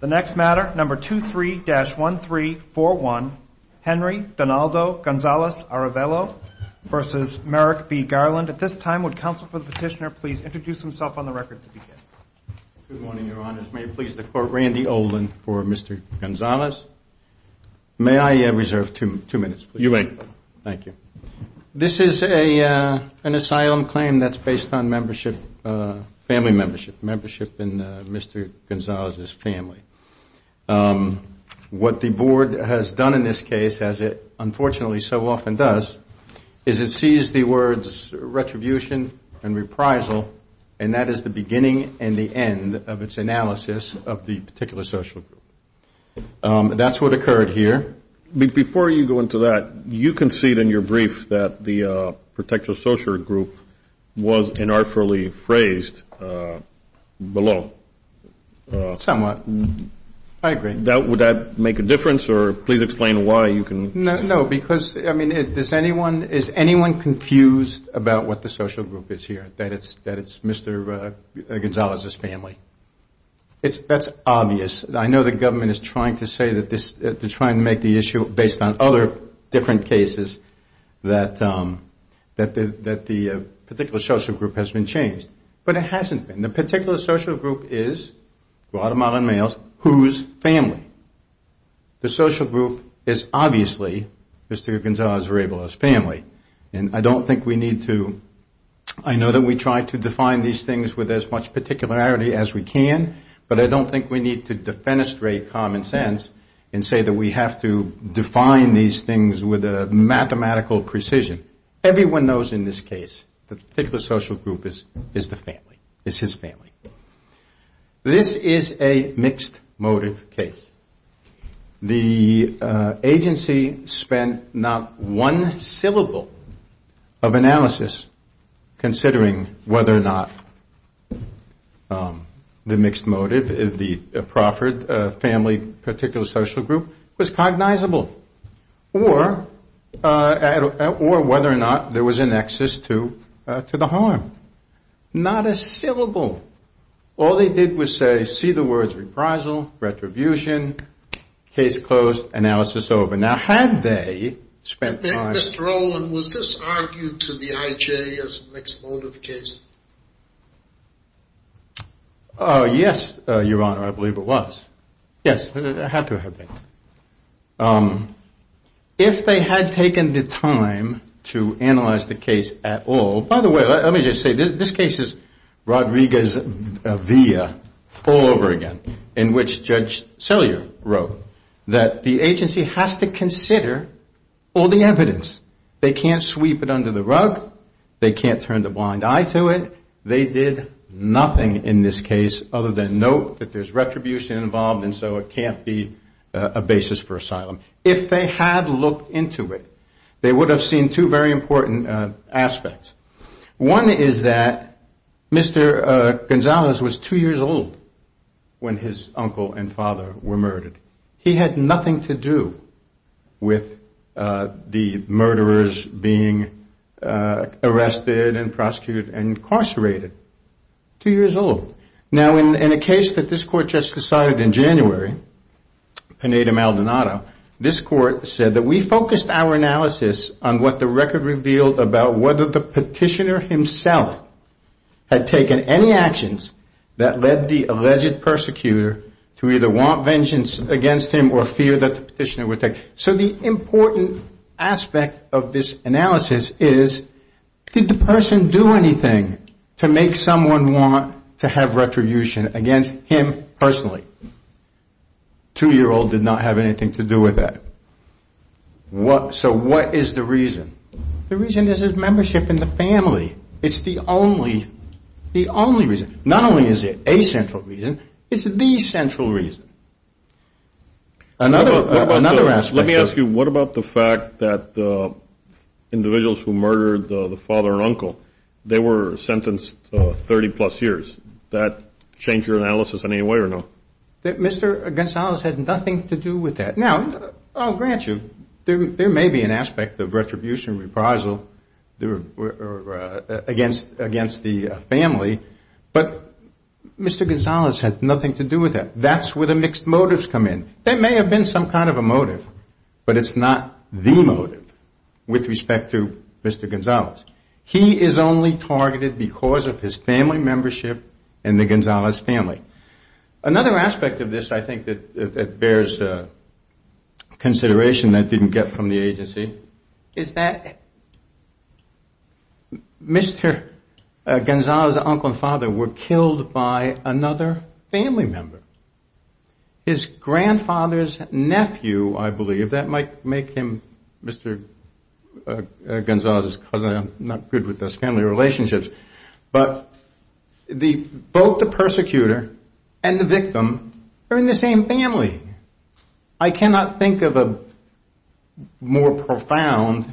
The next matter, number 23-1341, Henry Donaldo Gonzalez-Arevalo v. Merrick B. Garland. At this time, would counsel for the petitioner please introduce himself on the record to begin? Good morning, Your Honors. May it please the Court, Randy Olin for Mr. Gonzalez. May I reserve two minutes, please? You may. Thank you. This is an asylum claim that's based on membership, family membership, membership in Mr. Gonzalez's family. What the Board has done in this case, as it unfortunately so often does, is it sees the words retribution and reprisal, and that is the beginning and the end of its analysis of the particular social group. That's what occurred here. Before you go into that, you concede in your brief that the particular social group was inartfully phrased below. Somewhat. I agree. Would that make a difference, or please explain why you can? No, because, I mean, is anyone confused about what the social group is here, that it's Mr. Gonzalez's family? That's obvious. I know the government is trying to make the issue based on other different cases that the particular social group has been changed, but it hasn't been. The particular social group is Guatemalan males whose family. The social group is obviously Mr. Gonzalez's family, and I don't think we need to, I know that we try to define these things with as much particularity as we can, but I don't think we need to defenestrate common sense and say that we have to define these things with a mathematical precision. Everyone knows in this case the particular social group is the family, is his family. This is a mixed motive case. The agency spent not one syllable of analysis considering whether or not the mixed motive, the proffered family particular social group, was cognizable, or whether or not there was a nexus to the harm. Not a syllable. All they did was say, see the words reprisal, retribution, case closed, analysis over. Now had they spent time- Mr. Rowland, was this argued to the IJ as a mixed motive case? Yes, Your Honor, I believe it was. Yes, it had to have been. If they had taken the time to analyze the case at all, by the way, let me just say this case is Rodriguez-Villa all over again, in which Judge Sellier wrote that the agency has to consider all the evidence. They can't sweep it under the rug. They can't turn a blind eye to it. They did nothing in this case other than note that there's retribution involved, and so it can't be a basis for asylum. If they had looked into it, they would have seen two very important aspects. One is that Mr. Gonzalez was two years old when his uncle and father were murdered. He had nothing to do with the murderers being arrested and prosecuted and incarcerated. Two years old. Now in a case that this Court just decided in January, Pineda-Maldonado, this Court said that we focused our analysis on what the record revealed about whether the petitioner himself had taken any actions that led the alleged persecutor to either want vengeance against him or fear that the petitioner would take. So the important aspect of this analysis is, did the person do anything to make someone want to have retribution against him personally? Two-year-old did not have anything to do with that. So what is the reason? The reason is his membership in the family. It's the only reason. Not only is it a central reason, it's the central reason. Another aspect. Let me ask you, what about the fact that individuals who murdered the father and uncle, they were sentenced 30-plus years. That change your analysis in any way or no? Mr. Gonzalez had nothing to do with that. Now, I'll grant you, there may be an aspect of retribution, reprisal against the family, but Mr. Gonzalez had nothing to do with that. That's where the mixed motives come in. There may have been some kind of a motive, but it's not the motive with respect to Mr. Gonzalez. He is only targeted because of his family membership in the Gonzalez family. Another aspect of this I think that bears consideration that didn't get from the agency is that Mr. Gonzalez's uncle and father were killed by another family member. His grandfather's nephew, I believe, that might make him Mr. Gonzalez's cousin. I'm not good with those family relationships. But both the persecutor and the victim are in the same family. I cannot think of a more profound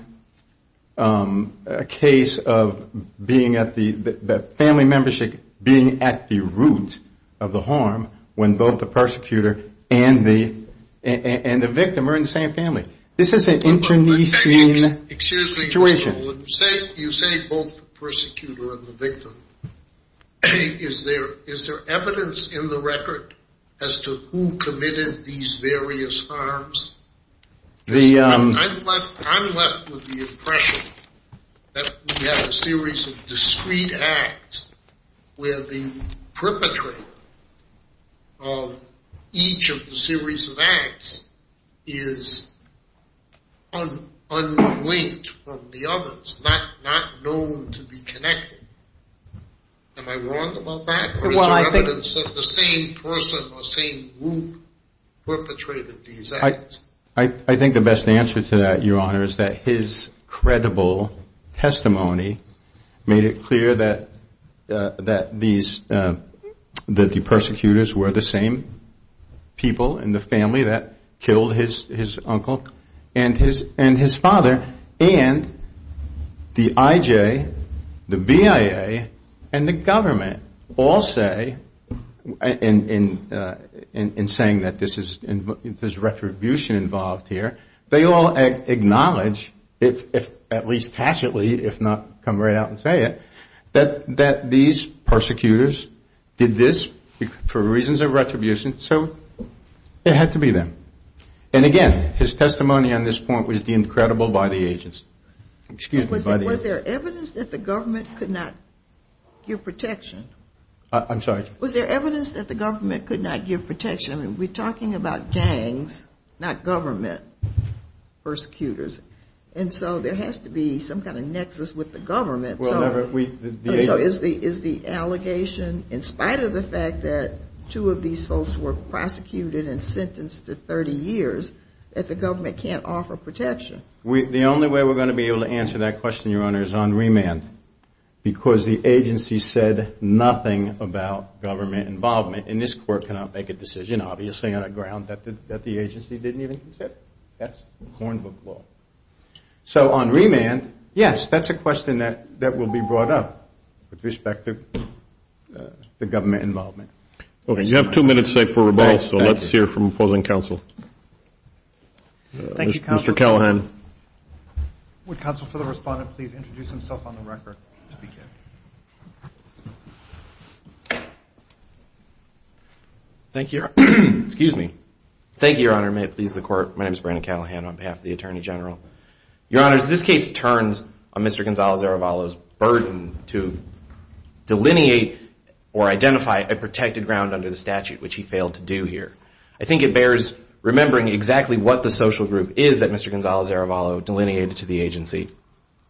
case of the family membership being at the root of the harm when both the persecutor and the victim are in the same family. This is an internecine situation. You say both the persecutor and the victim. Is there evidence in the record as to who committed these various harms? I'm left with the impression that we have a series of discrete acts where the perpetrator of each of the series of acts is unlinked from the others, not known to be connected. Am I wrong about that? Is there evidence that the same person or same group perpetrated these acts? I think the best answer to that, Your Honor, is that his credible testimony made it clear that the persecutors were the same people in the family that killed his uncle and his father. And the IJ, the BIA, and the government all say, in saying that there's retribution involved here, they all acknowledge, at least tacitly, if not come right out and say it, that these persecutors did this for reasons of retribution. So it had to be them. And, again, his testimony on this point was deemed credible by the agents. Was there evidence that the government could not give protection? I'm sorry? Was there evidence that the government could not give protection? I mean, we're talking about gangs, not government persecutors. And so there has to be some kind of nexus with the government. So is the allegation, in spite of the fact that two of these folks were prosecuted and sentenced to 30 years, that the government can't offer protection? The only way we're going to be able to answer that question, Your Honor, is on remand, because the agency said nothing about government involvement. And this Court cannot make a decision, obviously, on a ground that the agency didn't even consider. That's hornbook law. So on remand, yes, that's a question that will be brought up with respect to the government involvement. Okay, you have two minutes left for rebuttal, so let's hear from opposing counsel. Mr. Callahan. Would counsel for the respondent please introduce himself on the record? Thank you, Your Honor. Excuse me. Thank you, Your Honor. May it please the Court. My name is Brandon Callahan on behalf of the Attorney General. Your Honor, this case turns on Mr. Gonzales-Aravalo's burden to delineate or identify a protected ground under the statute, which he failed to do here. I think it bears remembering exactly what the social group is that Mr. Gonzales-Aravalo delineated to the agency.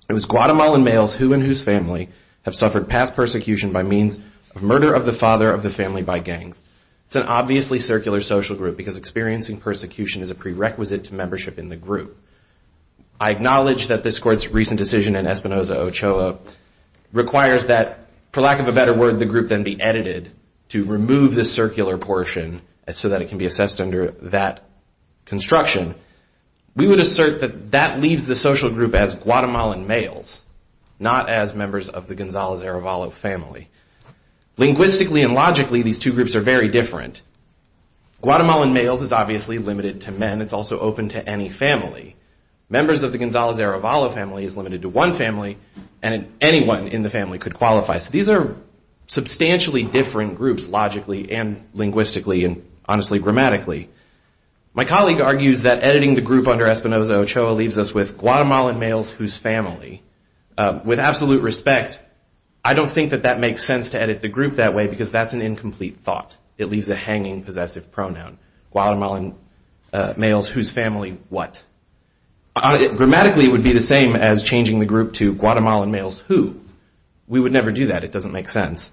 It was Guatemalan males who and whose family have suffered past persecution by means of murder of the father of the family by gangs. It's an obviously circular social group because experiencing persecution is a prerequisite to membership in the group. I acknowledge that this Court's recent decision in Espinoza-Ochoa requires that, for lack of a better word, the group then be edited to remove the circular portion so that it can be assessed under that construction. We would assert that that leaves the social group as Guatemalan males, not as members of the Gonzales-Aravalo family. Linguistically and logically, these two groups are very different. Guatemalan males is obviously limited to men. It's also open to any family. Members of the Gonzales-Aravalo family is limited to one family, and anyone in the family could qualify. So these are substantially different groups logically and linguistically and, honestly, grammatically. My colleague argues that editing the group under Espinoza-Ochoa leaves us with Guatemalan males whose family. With absolute respect, I don't think that that makes sense to edit the group that way because that's an incomplete thought. It leaves a hanging, possessive pronoun. Guatemalan males whose family what? Grammatically, it would be the same as changing the group to Guatemalan males who. We would never do that. It doesn't make sense.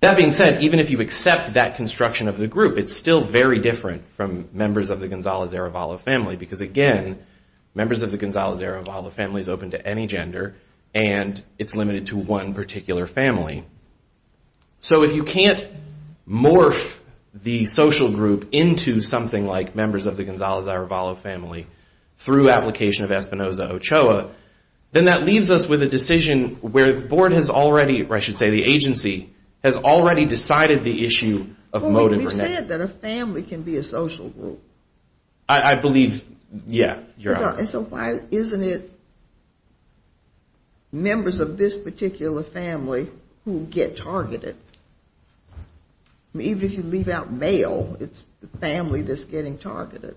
That being said, even if you accept that construction of the group, it's still very different from members of the Gonzales-Aravalo family because, again, members of the Gonzales-Aravalo family is open to any gender, and it's limited to one particular family. So if you can't morph the social group into something like members of the Gonzales-Aravalo family through application of Espinoza-Ochoa, then that leaves us with a decision where the board has already, or I should say the agency, has already decided the issue of motive. We've said that a family can be a social group. So why isn't it members of this particular family who get targeted? Even if you leave out male, it's the family that's getting targeted.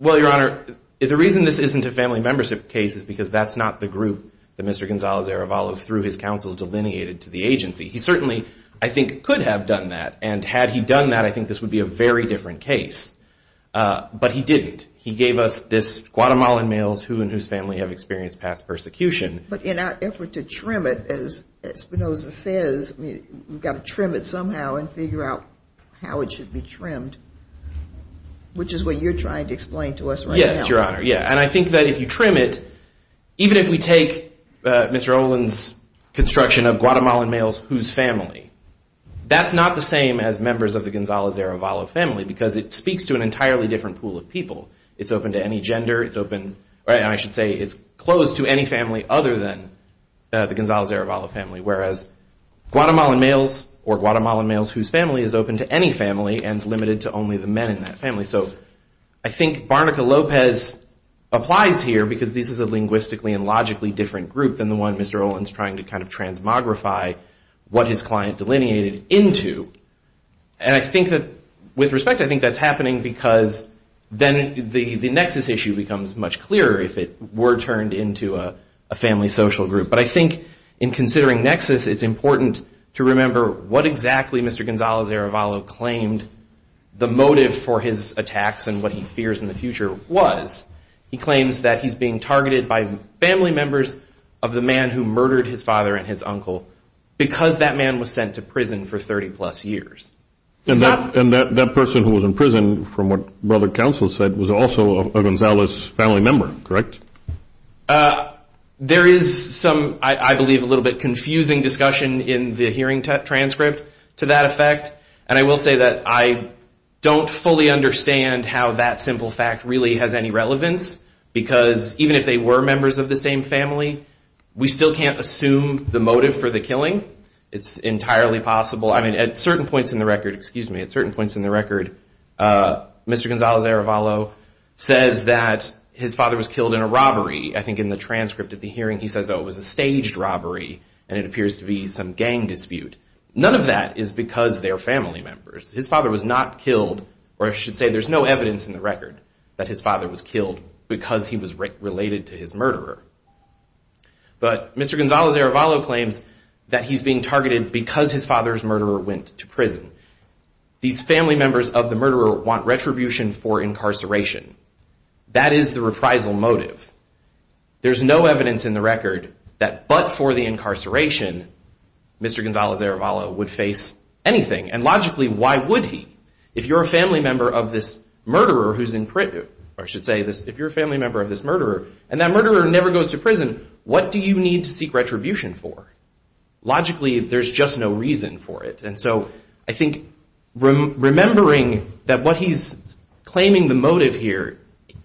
Well, Your Honor, the reason this isn't a family membership case is because that's not the group that Mr. Gonzales-Aravalo, through his counsel, delineated to the agency. He certainly, I think, could have done that, and had he done that, I think this would be a very different case. But he didn't. He gave us this Guatemalan males who and whose family have experienced past persecution. But in our effort to trim it, as Espinoza says, we've got to trim it somehow and figure out how it should be trimmed, which is what you're trying to explain to us right now. And I think that if you trim it, even if we take Mr. Olin's construction of Guatemalan males whose family, that's not the same as members of the Gonzales-Aravalo family because it speaks to an entirely different pool of people. It's open to any gender. I should say it's closed to any family other than the Gonzales-Aravalo family, whereas Guatemalan males or Guatemalan males whose family is open to any family and limited to only the men in that family. So I think Barnica-Lopez applies here because this is a linguistically and logically different group than the one Mr. Olin's trying to kind of transmogrify what his client delineated into. And I think that, with respect, I think that's happening because then the nexus issue becomes much clearer if it were turned into a family social group. But I think in considering nexus, it's important to remember what exactly Mr. Gonzales-Aravalo claimed the motive for his attacks and what he fears in the future was. He claims that he's being targeted by family members of the man who murdered his father and his uncle because that man was sent to prison for 30-plus years. And that person who was in prison, from what Brother Counsel said, was also a Gonzales family member, correct? There is some, I believe, a little bit confusing discussion in the hearing transcript to that effect. And I will say that I don't fully understand how that simple fact really has any relevance because even if they were members of the same family, we still can't assume the motive for the killing. It's entirely possible, I mean, at certain points in the record, excuse me, at certain points in the record, Mr. Gonzales-Aravalo says that his father was killed in a robbery. I think in the transcript of the hearing he says, oh, it was a staged robbery and it appears to be some gang dispute. None of that is because they are family members. His father was not killed, or I should say there's no evidence in the record that his father was killed because he was related to his murderer. But Mr. Gonzales-Aravalo claims that he's being targeted because his father's murderer went to prison. These family members of the murderer want retribution for incarceration. That is the reprisal motive. There's no evidence in the record that but for the incarceration, Mr. Gonzales-Aravalo would face anything. And logically, why would he? If you're a family member of this murderer and that murderer never goes to prison, what do you need to seek retribution for? Logically, there's just no reason for it. And so I think remembering that what he's claiming the motive here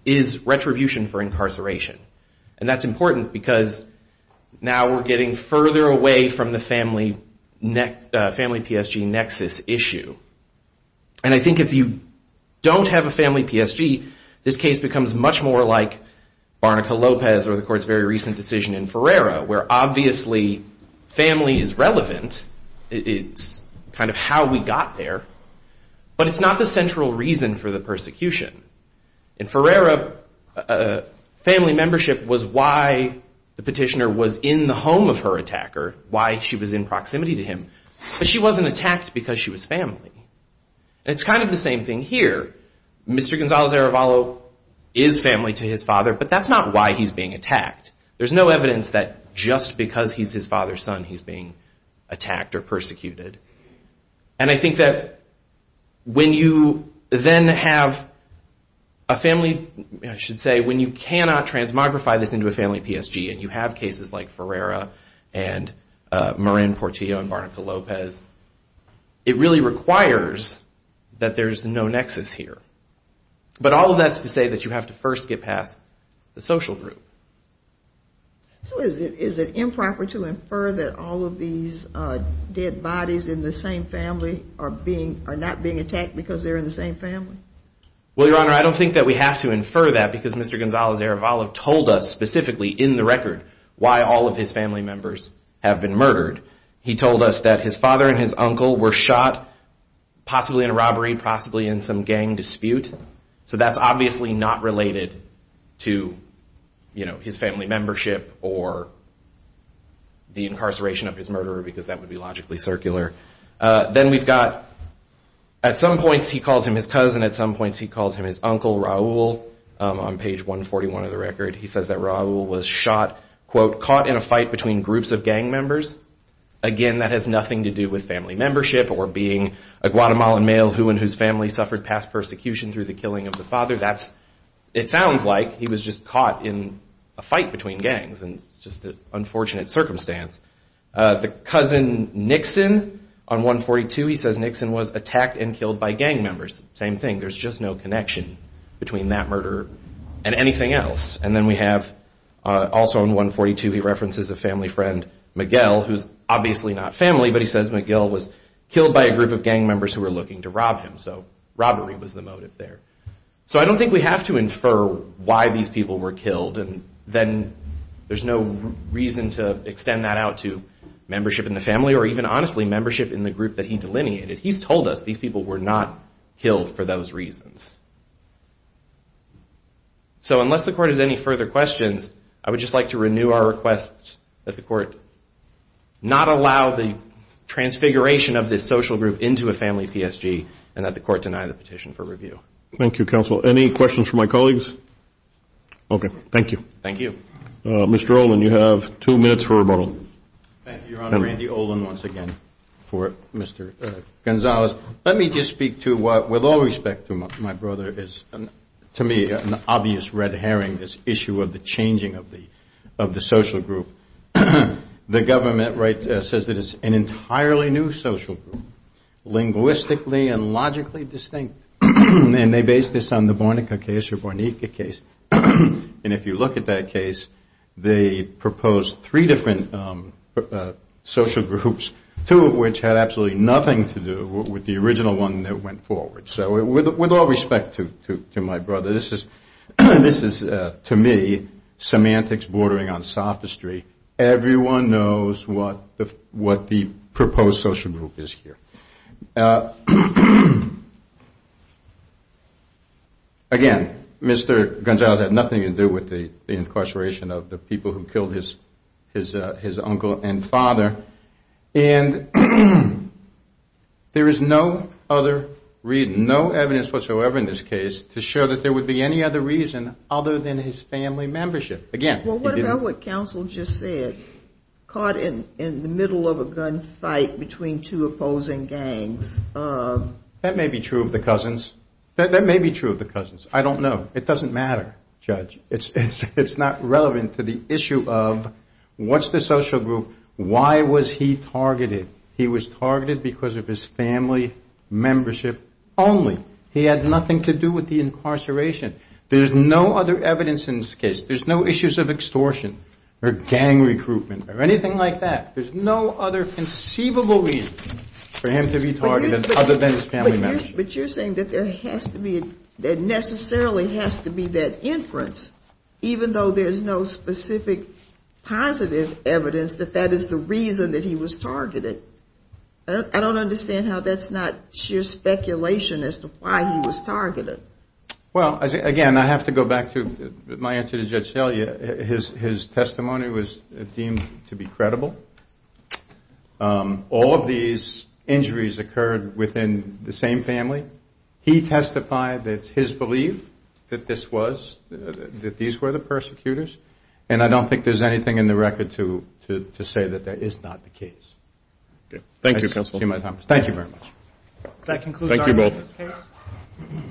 is retribution for incarceration. And that's important because now we're getting further away from the family PSG nexus issue. And I think if you don't have a family PSG, this case becomes much more like Barnica-Lopez or the court's very recent decision in Ferreira where obviously family is relevant. It's kind of how we got there. But it's not the central reason for the persecution. In Ferreira, family membership was why the petitioner was in the home of her attacker, why she was in proximity to him. But she wasn't attacked because she was family. And it's kind of the same thing here. Mr. Gonzales-Aravalo is family to his father, but that's not why he's being attacked. There's no evidence that just because he's his father's son, he's being attacked or persecuted. And I think that when you then have a family, I should say, when you cannot transmogrify this into a family PSG, and you have cases like Ferreira and Moran-Portillo and Barnica-Lopez, it really requires that there's no nexus here. But all of that's to say that you have to first get past the social group. So is it improper to infer that all of these dead bodies in the same family are not being attacked because they're in the same family? Well, Your Honor, I don't think that we have to infer that because Mr. Gonzales-Aravalo told us specifically in the record why all of his family members have been murdered. He told us that his father and his uncle were shot, possibly in a robbery, possibly in some gang dispute. So that's obviously not related to his family membership or the incarceration of his murderer, because that would be logically circular. Then we've got, at some points he calls him his cousin, at some points he calls him his uncle, Raul. On page 141 of the record he says that Raul was shot, quote, caught in a fight between groups of gang members. Again, that has nothing to do with family membership or being a Guatemalan male who and whose family suffered past persecution through the killing of the father. It sounds like he was just caught in a fight between gangs, and it's just an unfortunate circumstance. The cousin, Nixon, on 142 he says Nixon was attacked and killed by gang members. Same thing, there's just no connection between that murderer and anything else. Also on 142 he references a family friend, Miguel, who's obviously not family, but he says Miguel was killed by a group of gang members who were looking to rob him, so robbery was the motive there. So I don't think we have to infer why these people were killed, and then there's no reason to extend that out to membership in the family or even, honestly, membership in the group that he delineated. He's told us these people were not killed for those reasons. So unless the court has any further questions, I would just like to renew our request that the court not allow the transfiguration of this social group into a family PSG and that the court deny the petition for review. Thank you, counsel. Any questions for my colleagues? Okay. Thank you. Thank you. Mr. Olin, you have two minutes for rebuttal. Thank you, Your Honor. Randy Olin once again for Mr. Gonzalez. Let me just speak to what, with all respect to my brother, is to me an obvious red herring, this issue of the changing of the social group. The government says it is an entirely new social group, linguistically and logically distinct, and they base this on the Bornica case. And if you look at that case, they proposed three different social groups, two of which had absolutely nothing to do with the original one that went forward. So with all respect to my brother, this is, to me, semantics bordering on sophistry. Everyone knows what the proposed social group is here. Again, Mr. Gonzalez had nothing to do with the incarceration of the people who killed his uncle and father. And there is no other reason, no evidence whatsoever in this case to show that there would be any other reason other than his family membership. Again, he didn't. You know what counsel just said? Caught in the middle of a gun fight between two opposing gangs. That may be true of the cousins. That may be true of the cousins. I don't know. It doesn't matter, Judge. It's not relevant to the issue of what's the social group, why was he targeted. He was targeted because of his family membership only. He had nothing to do with the incarceration. There's no other evidence in this case. There's no issues of extortion or gang recruitment or anything like that. There's no other conceivable reason for him to be targeted other than his family membership. But you're saying that there has to be, that necessarily has to be that inference, even though there's no specific positive evidence that that is the reason that he was targeted. I don't understand how that's not sheer speculation as to why he was targeted. Well, again, I have to go back to my answer to Judge Shelley. His testimony was deemed to be credible. All of these injuries occurred within the same family. He testified that his belief that this was, that these were the persecutors. And I don't think there's anything in the record to say that that is not the case. Thank you, Counsel. Thank you very much.